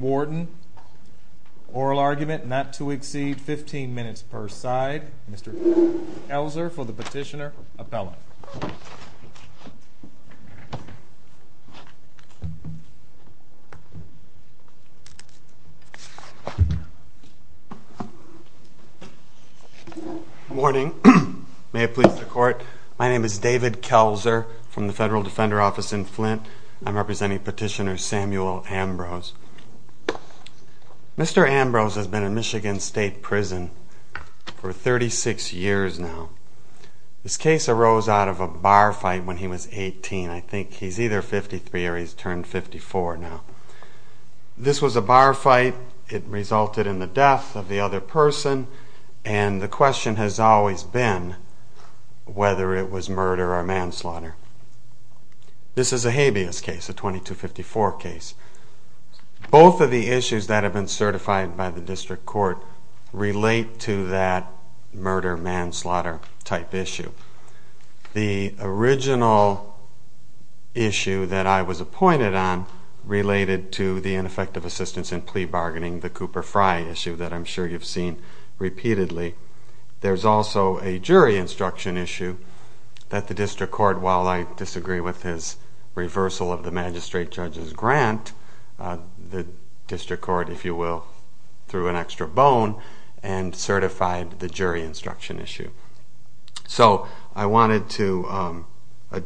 Warden, oral argument not to exceed 15 minutes per side, Mr. Elser for the petitioner, appellant. Good morning. May it please the court, my name is David Kelser from the Federal Defender Office in Flint. I'm representing petitioner Samuel Ambrose. Mr. Ambrose has been in Michigan State Prison for 36 years now. This case arose out of a bar fight when he was 18. I think he's either 53 or he's turned 54 now. This was a bar fight, it resulted in the death of the other person, and the question has always been whether it was murder or manslaughter. This is a habeas case, a 2254 case. Both of the issues that have been certified by the district court relate to that murder-manslaughter type issue. The original issue that I was appointed on related to the ineffective assistance in plea bargaining, the Cooper Frye issue that I'm sure you've seen repeatedly. There's also a jury instruction issue that the district court, while I disagree with his reversal of the magistrate judge's grant, the district court, if you will, threw an extra bone and certified the jury instruction issue. The problem with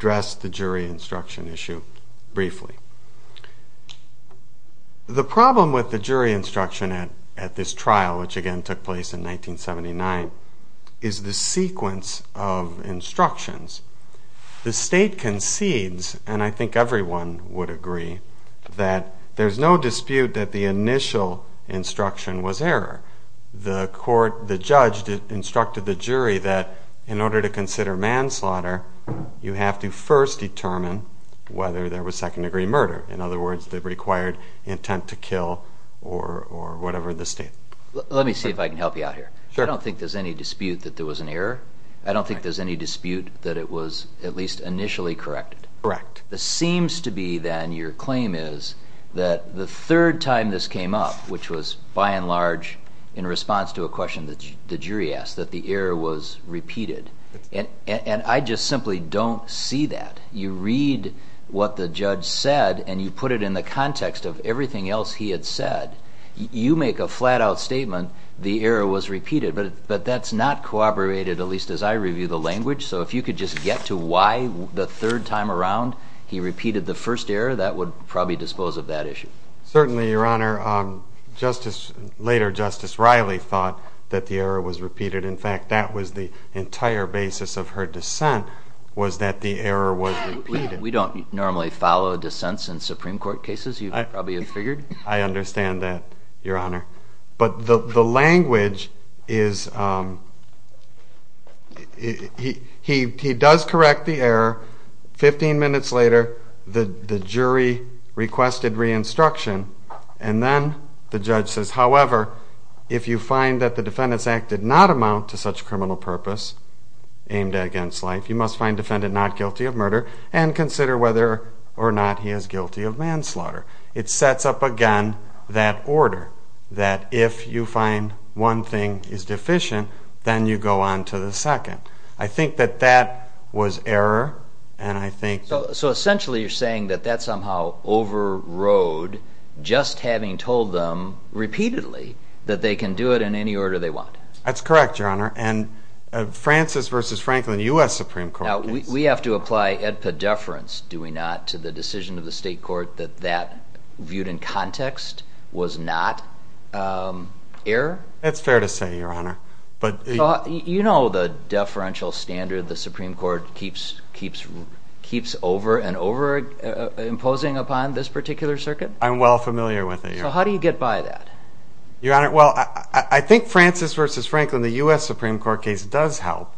the jury instruction at this trial, which again took place in 1979, is the sequence of instructions. The state concedes, and I think everyone would agree, that there's no dispute that the initial instruction was error. The court, the judge, instructed the jury that in order to consider manslaughter, you have to first determine whether there was second degree murder. In other words, the required intent to kill or whatever the state. Let me see if I can help you out here. I don't think there's any dispute that there was an error. I don't think there's any dispute that it was at least initially corrected. Correct. This seems to be then, your claim is, that the third time this came up, which was by and large in response to a question that the jury asked, that the error was repeated. And I just simply don't see that. You read what the judge said and you put it in the context of everything else he had said, you make a flat out statement the error was repeated. But that's not corroborated, at least as I review the language, so if you could just get to why the third time around he repeated the first error, that would probably dispose of that issue. Certainly, your honor. Later, Justice Riley thought that the error was repeated. In fact, that was the entire basis of her dissent, was that the error was repeated. We don't normally follow dissents in Supreme Court cases, you probably have figured. I understand that, your honor. But the language is, he does correct the error, 15 minutes later, the jury requested re-instruction, and then the judge says, however, if you find that the Defendant's Act did not amount to such criminal purpose, aimed against life, you must find the defendant not guilty of murder and consider whether or not he is guilty of manslaughter. It sets up again that order, that if you find one thing is deficient, then you go on to the second. I think that that was error, and I think... So essentially you're saying that that somehow overrode just having told them repeatedly that they can do it in any order they want. That's correct, your honor. And Francis v. Franklin, U.S. Supreme Court case... Now, we have to apply EDPA deference, do we not, to the decision of the state court that that, viewed in context, was not error? That's fair to say, your honor. You know the deferential standard the Supreme Court keeps over and over imposing upon this particular circuit? I'm well familiar with it, your honor. So how do you get by that? Your honor, well, I think Francis v. Franklin, the U.S. Supreme Court case does help,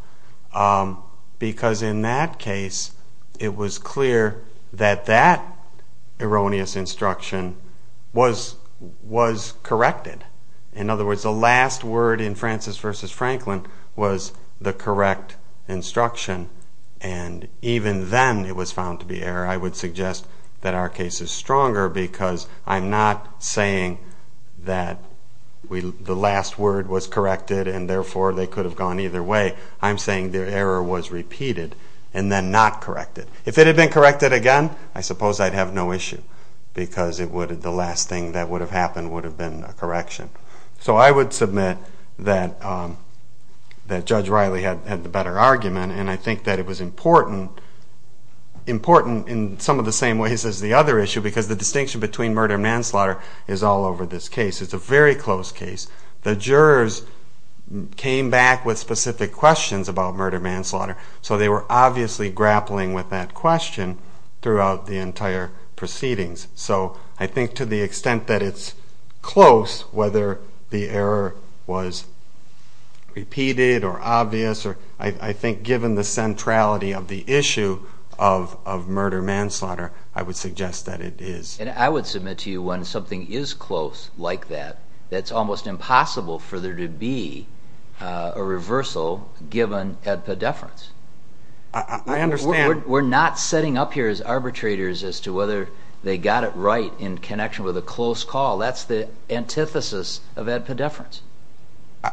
because in that case it was clear that that erroneous instruction was corrected. In other words, the last word in Francis v. Franklin was the correct instruction, and even then it was found to be error. I would suggest that our case is stronger, because I'm not saying that the last word was corrected and therefore they could have gone either way. I'm saying the error was repeated and then not corrected. If it had been corrected again, I suppose I'd have no issue, because the last thing that would have happened would have been a correction. So I would submit that Judge Riley had the better argument, and I think that it was important in some of the same ways as the other issue, because the distinction between murder and manslaughter is all over this case. It's a very close case. The jurors came back with specific questions about murder and manslaughter, so they were obviously grappling with that question throughout the entire proceedings. So I think to the extent that it's close, whether the error was repeated or obvious, I think given the centrality of the issue of murder-manslaughter, I would suggest that it is. And I would submit to you, when something is close like that, that it's almost impossible for there to be a reversal given at pedeference. I understand. We're not setting up here as arbitrators as to whether they got it right in connection with a close call. That's the antithesis of that pedeference.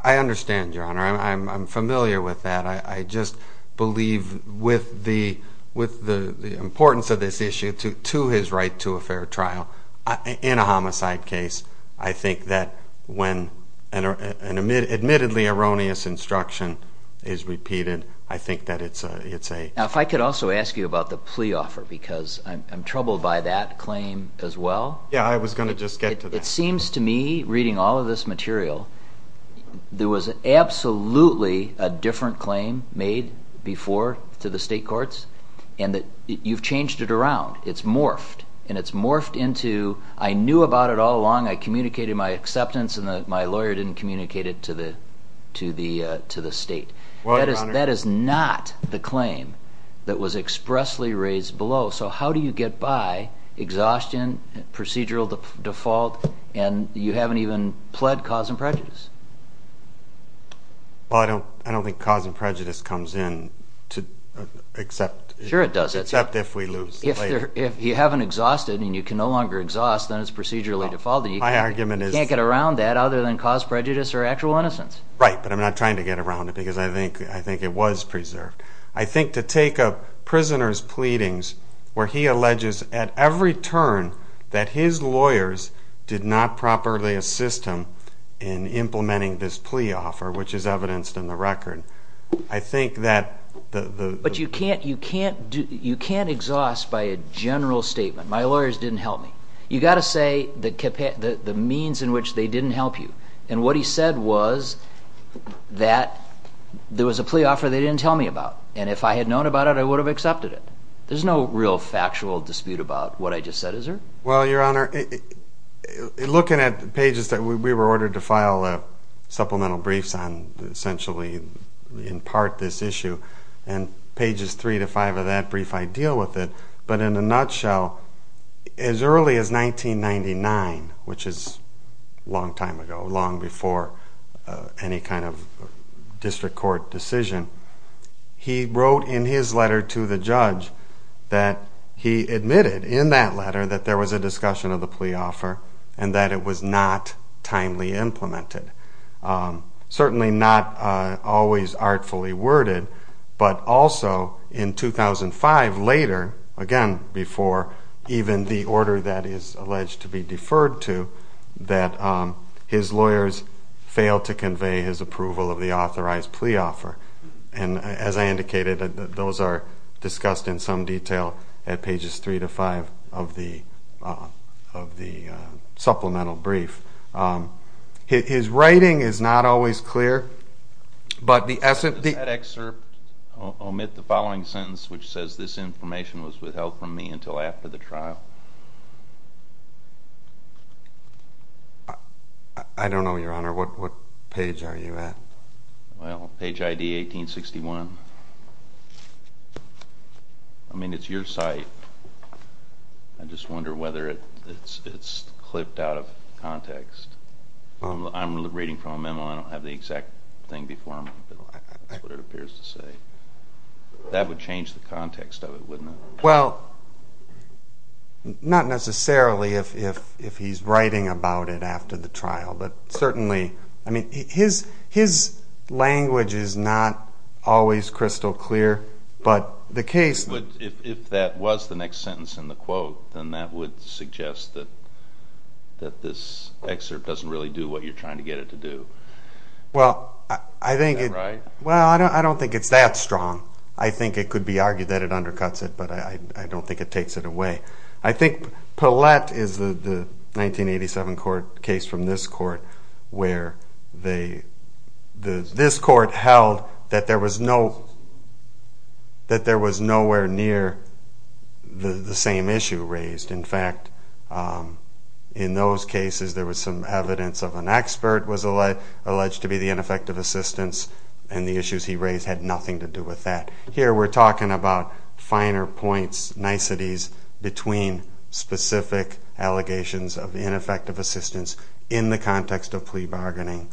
I understand, Your Honor. I'm familiar with that. I just believe with the importance of this issue to his right to a fair trial in a homicide case, I think that when an admittedly erroneous instruction is repeated, I think that it's a… Now, if I could also ask you about the plea offer, because I'm troubled by that claim as well. Yeah, I was going to just get to that. It seems to me, reading all of this material, there was absolutely a different claim made before to the state courts, and you've changed it around. It's morphed, and it's morphed into, I knew about it all along, I communicated my acceptance, and my lawyer didn't communicate it to the state. Well, Your Honor… That is not the claim that was expressly raised below. So how do you get by exhaustion, procedural default, and you haven't even pled cause and prejudice? Well, I don't think cause and prejudice comes in except if we lose the plea. If you haven't exhausted and you can no longer exhaust, then it's procedurally defaulted. My argument is… You can't get around that other than cause prejudice or actual innocence. Right, but I'm not trying to get around it because I think it was preserved. I think to take a prisoner's pleadings where he alleges at every turn that his lawyers did not properly assist him in implementing this plea offer, which is evidenced in the record, I think that… But you can't exhaust by a general statement. My lawyers didn't help me. You've got to say the means in which they didn't help you. And what he said was that there was a plea offer they didn't tell me about. And if I had known about it, I would have accepted it. There's no real factual dispute about what I just said, is there? Well, Your Honor, looking at the pages that we were ordered to file supplemental briefs on essentially in part this issue, and pages 3 to 5 of that brief, I deal with it. But in a nutshell, as early as 1999, which is a long time ago, long before any kind of district court decision, he wrote in his letter to the judge that he admitted in that letter that there was a discussion of the plea offer and that it was not timely implemented. Certainly not always artfully worded, but also in 2005, later, again before even the order that is alleged to be deferred to, that his lawyers failed to convey his approval of the authorized plea offer. And as I indicated, those are discussed in some detail at pages 3 to 5 of the supplemental brief. His writing is not always clear. Does that excerpt omit the following sentence, which says, This information was withheld from me until after the trial? I don't know, Your Honor. What page are you at? Well, page ID 1861. I mean, it's your site. I just wonder whether it's clipped out of context. I'm reading from a memo. I don't have the exact thing before me, but that's what it appears to say. That would change the context of it, wouldn't it? Well, not necessarily if he's writing about it after the trial, but certainly, I mean, his language is not always crystal clear, but the case If that was the next sentence in the quote, then that would suggest that this excerpt doesn't really do what you're trying to get it to do. Well, I don't think it's that strong. I think it could be argued that it undercuts it, but I don't think it takes it away. I think Pellett is the 1987 case from this court where this court held that there was nowhere near the same issue raised. In fact, in those cases, there was some evidence of an expert was alleged to be the ineffective assistance, and the issues he raised had nothing to do with that. Here, we're talking about finer points, niceties, between specific allegations of ineffective assistance in the context of plea bargaining,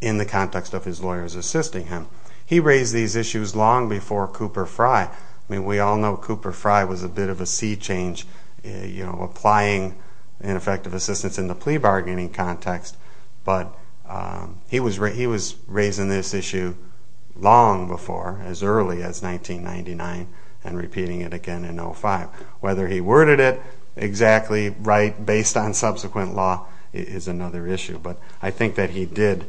in the context of his lawyers assisting him. He raised these issues long before Cooper Fry. I mean, we all know Cooper Fry was a bit of a sea change, applying ineffective assistance in the plea bargaining context, but he was raising this issue long before, as early as 1999, and repeating it again in 2005. Whether he worded it exactly right based on subsequent law is another issue, but I think that he did.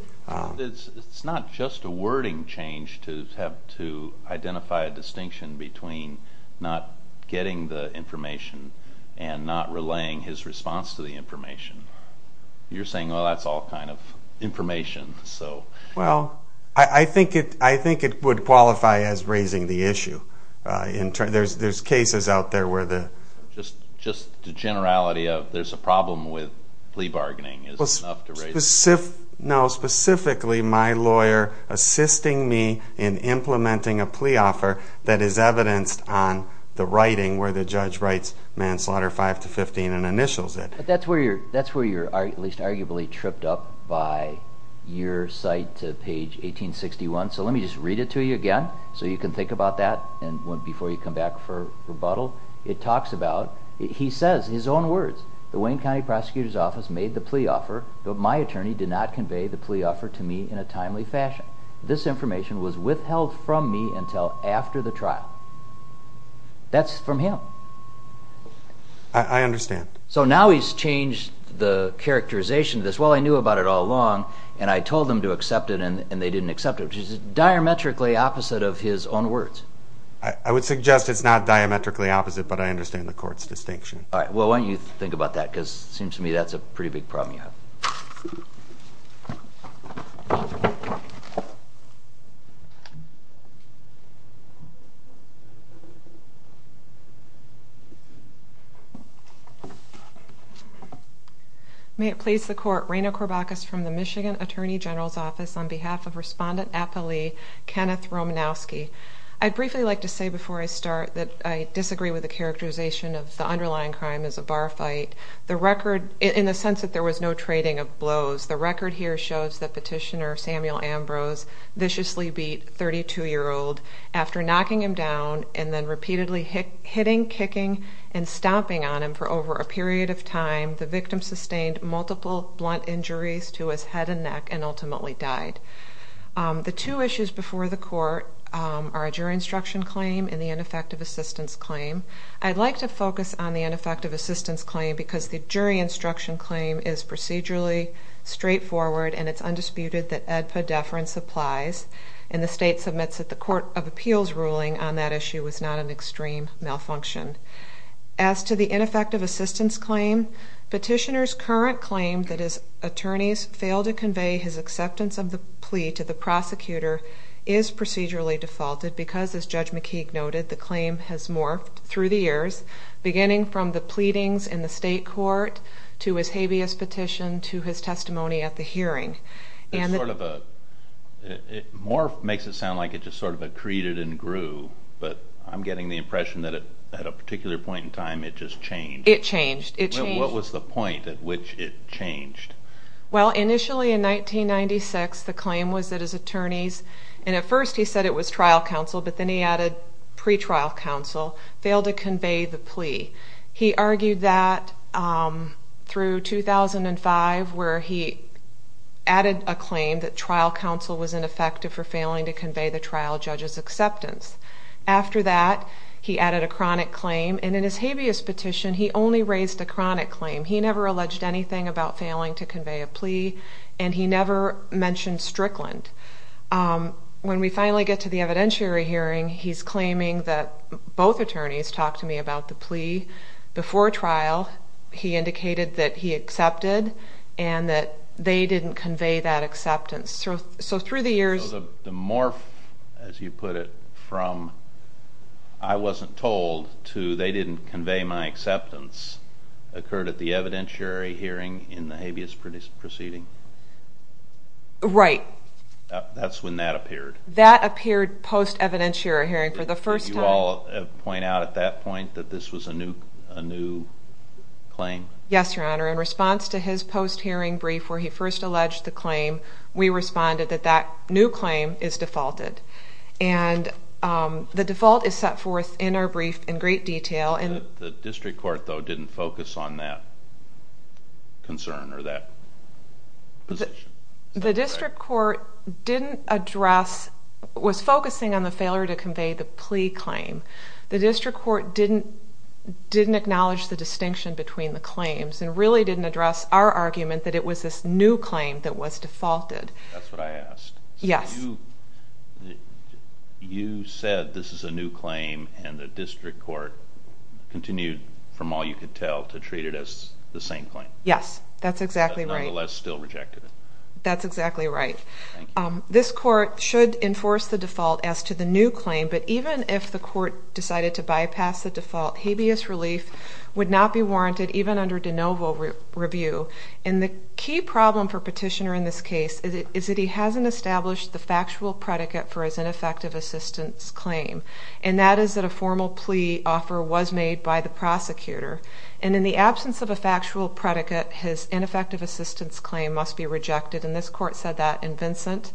It's not just a wording change to have to identify a distinction between not getting the information and not relaying his response to the information. You're saying, well, that's all kind of information, so... Well, I think it would qualify as raising the issue. There's cases out there where the... Just the generality of, there's a problem with plea bargaining is enough to raise... No, specifically my lawyer assisting me in implementing a plea offer that is evidenced on the writing where the judge writes manslaughter 5 to 15 and initials it. That's where you're, at least arguably, tripped up by your cite to page 1861, so let me just read it to you again so you can think about that before you come back for rebuttal. It talks about, he says, his own words, the Wayne County Prosecutor's Office made the plea offer, but my attorney did not convey the plea offer to me in a timely fashion. This information was withheld from me until after the trial. That's from him. I understand. So now he's changed the characterization of this, well, I knew about it all along, and I told them to accept it and they didn't accept it, which is diametrically opposite of his own words. I would suggest it's not diametrically opposite, but I understand the court's distinction. All right, well, why don't you think about that, because it seems to me that's a pretty big problem you have. May it please the court, Raina Korbakis from the Michigan Attorney General's Office, on behalf of Respondent Appalee Kenneth Romanowski. I'd briefly like to say before I start that I disagree with the characterization of the underlying crime as a bar fight, in the sense that there was no trading of blows. The record here shows that Petitioner Samuel Ambrose viciously beat 32-year-old after knocking him down and then repeatedly hitting, kicking, and stomping on him for over a period of time. The victim sustained multiple blunt injuries to his head and neck and ultimately died. The two issues before the court are a jury instruction claim and the ineffective assistance claim. I'd like to focus on the ineffective assistance claim because the jury instruction claim is procedurally straightforward and it's undisputed that AEDPA deference applies, and the state submits at the Court of Appeals ruling on that issue was not an extreme malfunction. As to the ineffective assistance claim, Petitioner's current claim that his attorneys failed to convey his acceptance of the plea to the prosecutor is procedurally defaulted, because, as Judge McKeague noted, the claim has morphed through the years, beginning from the pleadings in the state court, to his habeas petition, to his testimony at the hearing. It's sort of a... morph makes it sound like it just sort of accreted and grew, but I'm getting the impression that at a particular point in time it just changed. It changed. It changed. What was the point at which it changed? Well, initially in 1996, the claim was that his attorneys, and at first he said it was trial counsel, but then he added pre-trial counsel, failed to convey the plea. He argued that through 2005, where he added a claim that trial counsel was ineffective for failing to convey the trial judge's acceptance. After that, he added a chronic claim, and in his habeas petition he only raised a chronic claim. He never alleged anything about failing to convey a plea, and he never mentioned Strickland. When we finally get to the evidentiary hearing, he's claiming that both attorneys talked to me about the plea before trial. He indicated that he accepted, and that they didn't convey that acceptance. So through the years... So the morph, as you put it, from I wasn't told to they didn't convey my acceptance, occurred at the evidentiary hearing in the habeas proceeding? Right. That's when that appeared. That appeared post-evidentiary hearing for the first time. Did you all point out at that point that this was a new claim? Yes, Your Honor. In response to his post-hearing brief where he first alleged the claim, we responded that that new claim is defaulted. And the default is set forth in our brief in great detail. The district court, though, didn't focus on that concern or that position? The district court didn't address, was focusing on the failure to convey the plea claim. The district court didn't acknowledge the distinction between the claims and really didn't address our argument that it was this new claim that was defaulted. That's what I asked. Yes. You said this is a new claim, and the district court continued, from all you could tell, to treat it as the same claim. Yes, that's exactly right. That's exactly right. Thank you. This court should enforce the default as to the new claim, but even if the court decided to bypass the default, habeas relief would not be warranted even under de novo review. And the key problem for Petitioner in this case is that he hasn't established the factual predicate for his ineffective assistance claim, and that is that a formal plea offer was made by the prosecutor. And in the absence of a factual predicate, his ineffective assistance claim must be rejected, and this court said that in Vincent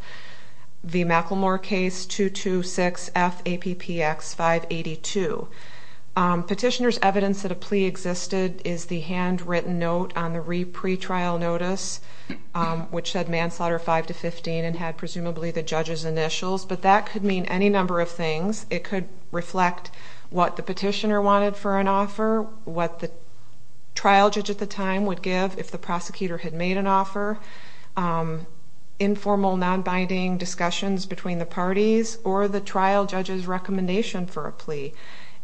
v. McLemore case 226FAPPX582. Petitioner's evidence that a plea existed is the handwritten note on the pre-trial notice, which said manslaughter 5 to 15 and had presumably the judge's initials, but that could mean any number of things. It could reflect what the petitioner wanted for an offer, what the trial judge at the time would give if the prosecutor had made an offer, informal nonbinding discussions between the parties or the trial judge's recommendation for a plea,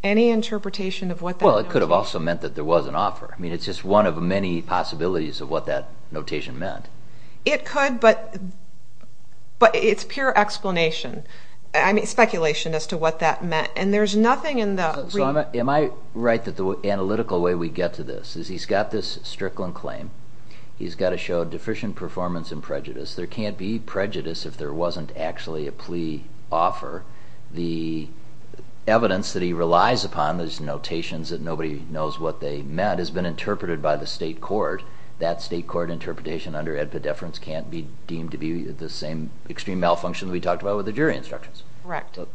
any interpretation of what that notation meant. Well, it could have also meant that there was an offer. I mean, it's just one of many possibilities of what that notation meant. It could, but it's pure explanation. I mean, speculation as to what that meant, and there's nothing in the... So am I right that the analytical way we get to this is he's got this Strickland claim, he's got to show deficient performance and prejudice. There can't be prejudice if there wasn't actually a plea offer. The evidence that he relies upon, those notations that nobody knows what they meant, has been interpreted by the state court. That state court interpretation under epidefference can't be deemed to be the same extreme malfunction that we talked about with the jury instructions.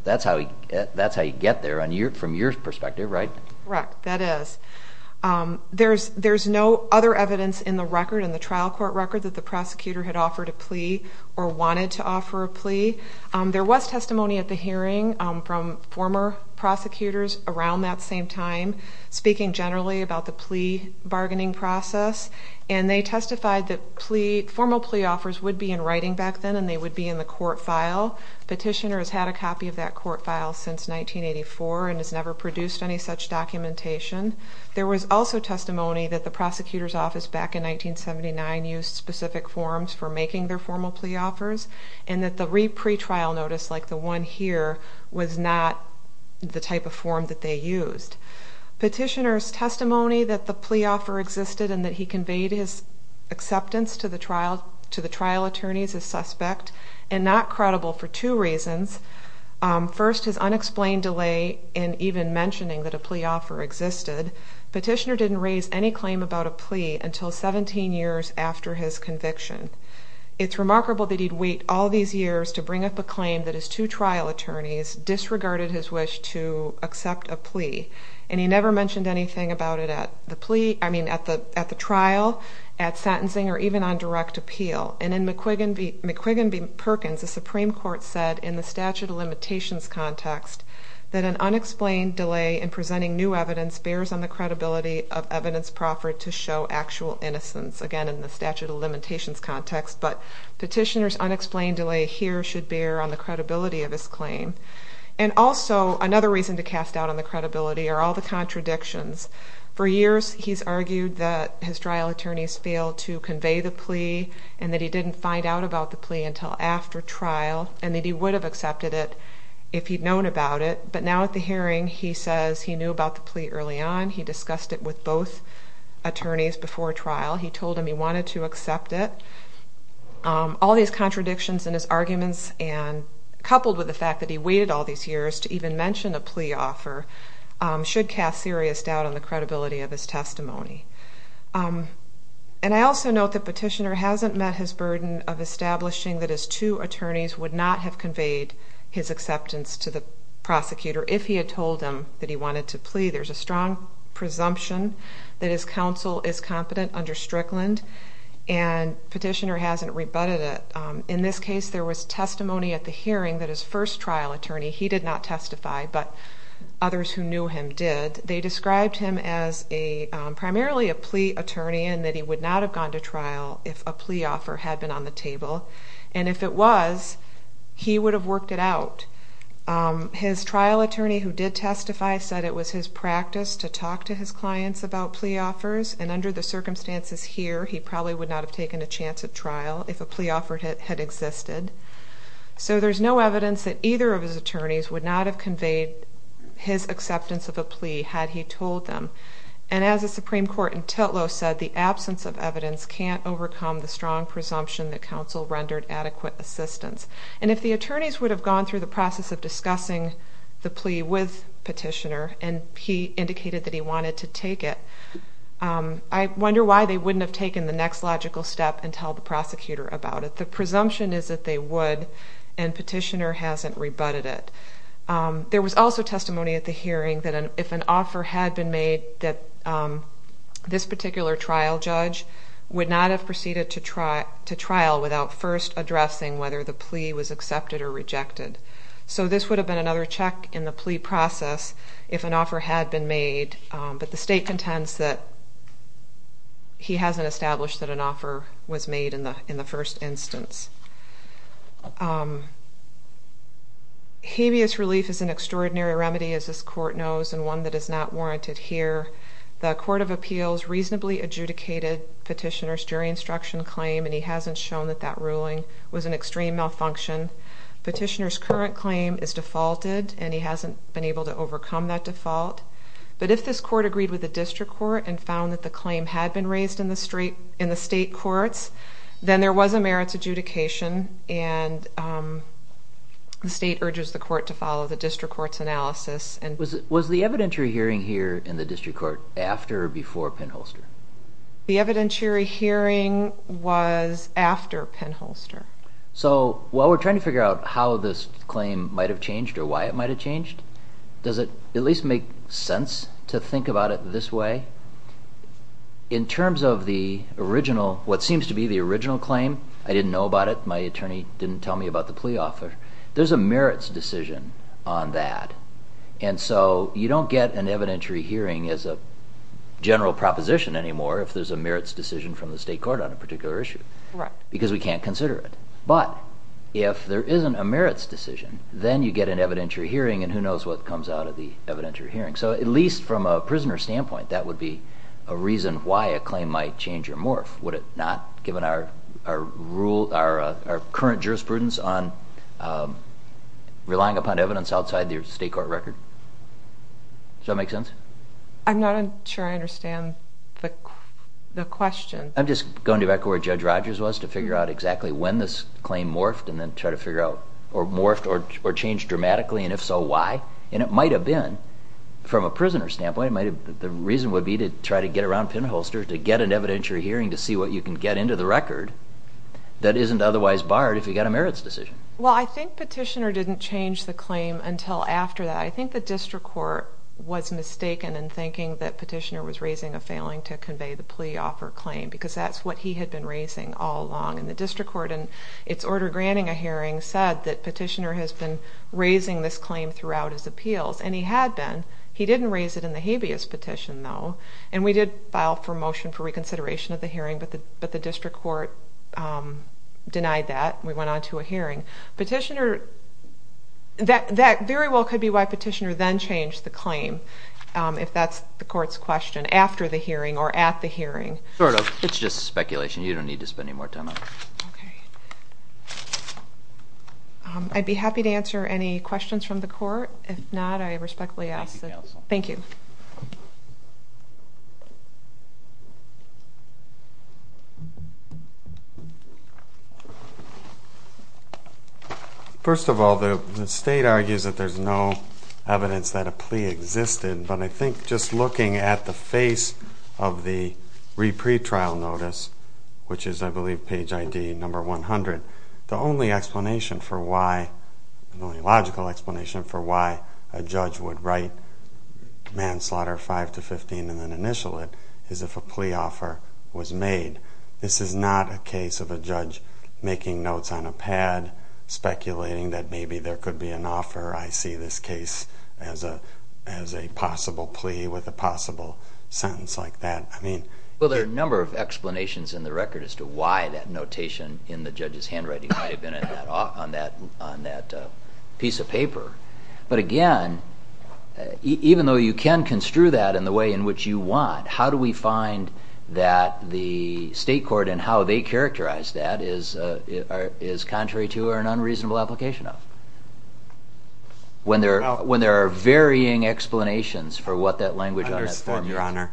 That's how you get there from your perspective, right? Correct, that is. There's no other evidence in the record, in the trial court record, that the prosecutor had offered a plea or wanted to offer a plea. There was testimony at the hearing from former prosecutors around that same time speaking generally about the plea bargaining process, and they testified that formal plea offers would be in writing back then and they would be in the court file. Petitioner has had a copy of that court file since 1984 and has never produced any such documentation. There was also testimony that the prosecutor's office back in 1979 used specific forms for making their formal plea offers and that the re-pre-trial notice, like the one here, was not the type of form that they used. Petitioner's testimony that the plea offer existed and that he conveyed his acceptance to the trial attorneys is suspect and not credible for two reasons. First, his unexplained delay in even mentioning that a plea offer existed. Petitioner didn't raise any claim about a plea until 17 years after his conviction. It's remarkable that he'd wait all these years to bring up a claim that his two trial attorneys disregarded his wish to accept a plea, and he never mentioned anything about it at the trial, at sentencing, or even on direct appeal. And in McQuiggan v. Perkins, the Supreme Court said in the statute of limitations context that an unexplained delay in presenting new evidence bears on the credibility of evidence proffered to show actual innocence. Again, in the statute of limitations context, but petitioner's unexplained delay here should bear on the credibility of his claim. And also, another reason to cast doubt on the credibility are all the contradictions. For years, he's argued that his trial attorneys failed to convey the plea and that he didn't find out about the plea until after trial and that he would have accepted it if he'd known about it. But now at the hearing, he says he knew about the plea early on. He discussed it with both attorneys before trial. He told them he wanted to accept it. All these contradictions in his arguments, coupled with the fact that he waited all these years to even mention a plea offer, should cast serious doubt on the credibility of his testimony. And I also note that petitioner hasn't met his burden of establishing that his two attorneys would not have conveyed his acceptance to the prosecutor if he had told them that he wanted to plea. There's a strong presumption that his counsel is competent under Strickland, and petitioner hasn't rebutted it. In this case, there was testimony at the hearing that his first trial attorney, he did not testify, but others who knew him did. They described him as primarily a plea attorney and that he would not have gone to trial if a plea offer had been on the table. And if it was, he would have worked it out. His trial attorney who did testify said it was his practice to talk to his clients about plea offers, and under the circumstances here, he probably would not have taken a chance at trial if a plea offer had existed. So there's no evidence that either of his attorneys would not have conveyed his acceptance of a plea had he told them. And as the Supreme Court in Titlow said, the absence of evidence can't overcome the strong presumption that counsel rendered adequate assistance. And if the attorneys would have gone through the process of discussing the plea with petitioner and he indicated that he wanted to take it, I wonder why they wouldn't have taken the next logical step and told the prosecutor about it. The presumption is that they would, and petitioner hasn't rebutted it. There was also testimony at the hearing that if an offer had been made that this particular trial judge would not have proceeded to trial without first addressing whether the plea was accepted or rejected. So this would have been another check in the plea process if an offer had been made. But the state contends that he hasn't established that an offer was made in the first instance. Habeas relief is an extraordinary remedy, as this court knows, and one that is not warranted here. The Court of Appeals reasonably adjudicated petitioner's jury instruction claim, and he hasn't shown that that ruling was an extreme malfunction. Petitioner's current claim is defaulted, and he hasn't been able to overcome that default. But if this court agreed with the district court and found that the claim had been raised in the state courts, then there was a merits adjudication, and the state urges the court to follow the district court's analysis. Was the evidentiary hearing here in the district court after or before Penholster? The evidentiary hearing was after Penholster. So while we're trying to figure out how this claim might have changed or why it might have changed, does it at least make sense to think about it this way? In terms of the original, what seems to be the original claim, I didn't know about it, my attorney didn't tell me about the plea offer. There's a merits decision on that, and so you don't get an evidentiary hearing as a general proposition anymore if there's a merits decision from the state court on a particular issue, because we can't consider it. But if there isn't a merits decision, then you get an evidentiary hearing, and who knows what comes out of the evidentiary hearing. So at least from a prisoner's standpoint, that would be a reason why a claim might change or morph, would it not, given our current jurisprudence on relying upon evidence outside the state court record. Does that make sense? I'm not sure I understand the question. I'm just going back to where Judge Rogers was to figure out exactly when this claim morphed and then try to figure out, or morphed or changed dramatically, and if so, why. And it might have been, from a prisoner's standpoint, the reason would be to try to get around Penholster, to get an evidentiary hearing to see what you can get into the record that isn't otherwise barred if you get a merits decision. Well, I think Petitioner didn't change the claim until after that. I think the district court was mistaken in thinking that Petitioner was raising a failing to convey the plea offer claim, because that's what he had been raising all along. And the district court, in its order granting a hearing, said that Petitioner has been raising this claim throughout his appeals, and he had been. He didn't raise it in the habeas petition, though. And we did file for a motion for reconsideration of the hearing, but the district court denied that. We went on to a hearing. Petitioner, that very well could be why Petitioner then changed the claim, if that's the court's question, after the hearing or at the hearing. Sort of. It's just speculation. You don't need to spend any more time on it. Okay. I'd be happy to answer any questions from the court. If not, I respectfully ask that... Thank you, counsel. Thank you. Thank you. First of all, the state argues that there's no evidence that a plea existed, but I think just looking at the face of the re-pretrial notice, which is, I believe, page ID number 100, the only explanation for why, the only logical explanation for why, a judge would write manslaughter 5 to 15 and then initial it, is if a plea offer was made. This is not a case of a judge making notes on a pad, speculating that maybe there could be an offer. I see this case as a possible plea with a possible sentence like that. Well, there are a number of explanations in the record as to why that notation But, again, even though you can construe that in the way in which you want, how do we find that the state court and how they characterize that is contrary to or an unreasonable application of? When there are varying explanations for what that language on that form is. I understand, Your Honor.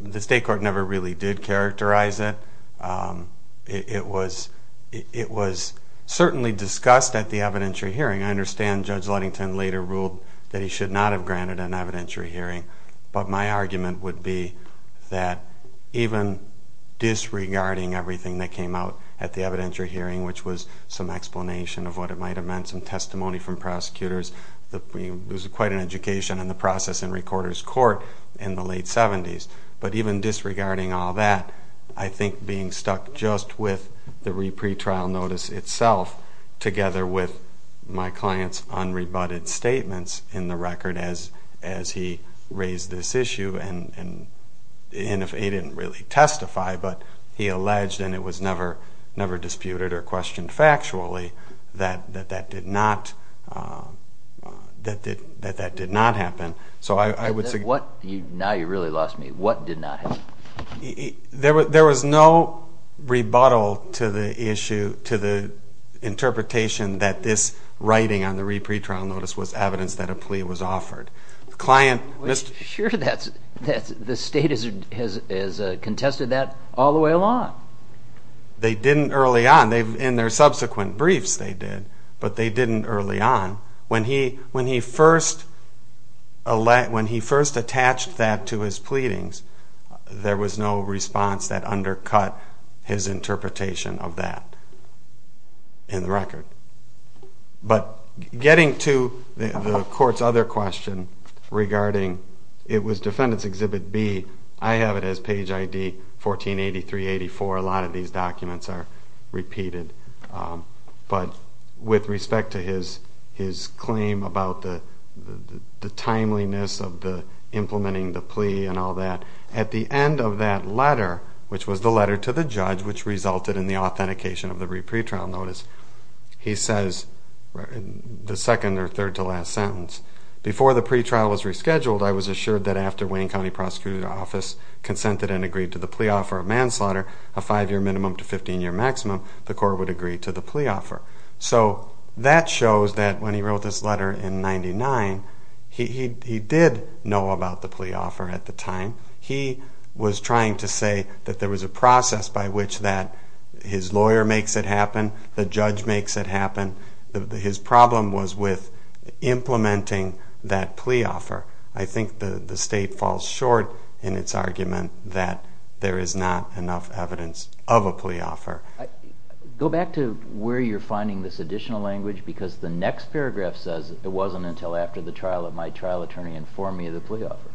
The state court never really did characterize it. It was certainly discussed at the evidentiary hearing. I understand Judge Ludington later ruled that he should not have granted an evidentiary hearing, but my argument would be that even disregarding everything that came out at the evidentiary hearing, which was some explanation of what it might have meant, some testimony from prosecutors, there was quite an education in the process in Recorder's Court in the late 70s, but even disregarding all that, I think being stuck just with the re-pretrial notice itself together with my client's unrebutted statements in the record as he raised this issue, and he didn't really testify, but he alleged, and it was never disputed or questioned factually, that that did not happen. Now you really lost me. What did not happen? There was no rebuttal to the interpretation that this writing on the re-pretrial notice was evidence that a plea was offered. Sure, the state has contested that all the way along. They didn't early on. In their subsequent briefs they did, but they didn't early on. When he first attached that to his pleadings, there was no response that undercut his interpretation of that in the record. But getting to the Court's other question regarding, it was Defendant's Exhibit B. I have it as page ID 1483-84. A lot of these documents are repeated. But with respect to his claim about the timeliness of implementing the plea and all that, at the end of that letter, which was the letter to the judge, which resulted in the authentication of the re-pretrial notice, he says in the second or third to last sentence, Before the pretrial was rescheduled, I was assured that after Wayne County Prosecutor's Office consented and agreed to the plea offer of manslaughter, a five-year minimum to 15-year maximum, the Court would agree to the plea offer. So that shows that when he wrote this letter in 1999, he did know about the plea offer at the time. He was trying to say that there was a process by which his lawyer makes it happen, the judge makes it happen. His problem was with implementing that plea offer. I think the State falls short in its argument that there is not enough evidence of a plea offer. Go back to where you're finding this additional language because the next paragraph says, It wasn't until after the trial that my trial attorney informed me of the plea offer.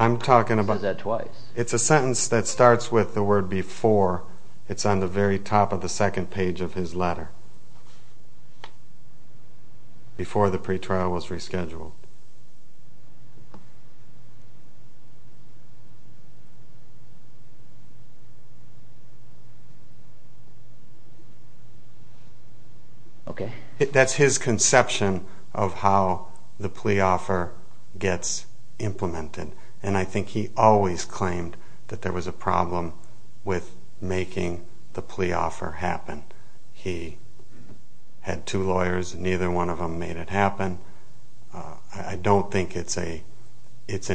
I'm talking about... It says that twice. It's a sentence that starts with the word before. It's on the very top of the second page of his letter. Before the pre-trial was rescheduled. Okay. That's his conception of how the plea offer gets implemented, and I think he always claimed that there was a problem with making the plea offer happen. He had two lawyers. Neither one of them made it happen. I don't think it's an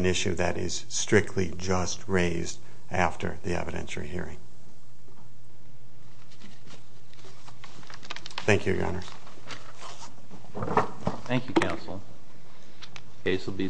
issue that is strictly just raised after the evidentiary hearing. Thank you, Your Honor. Case will be submitted.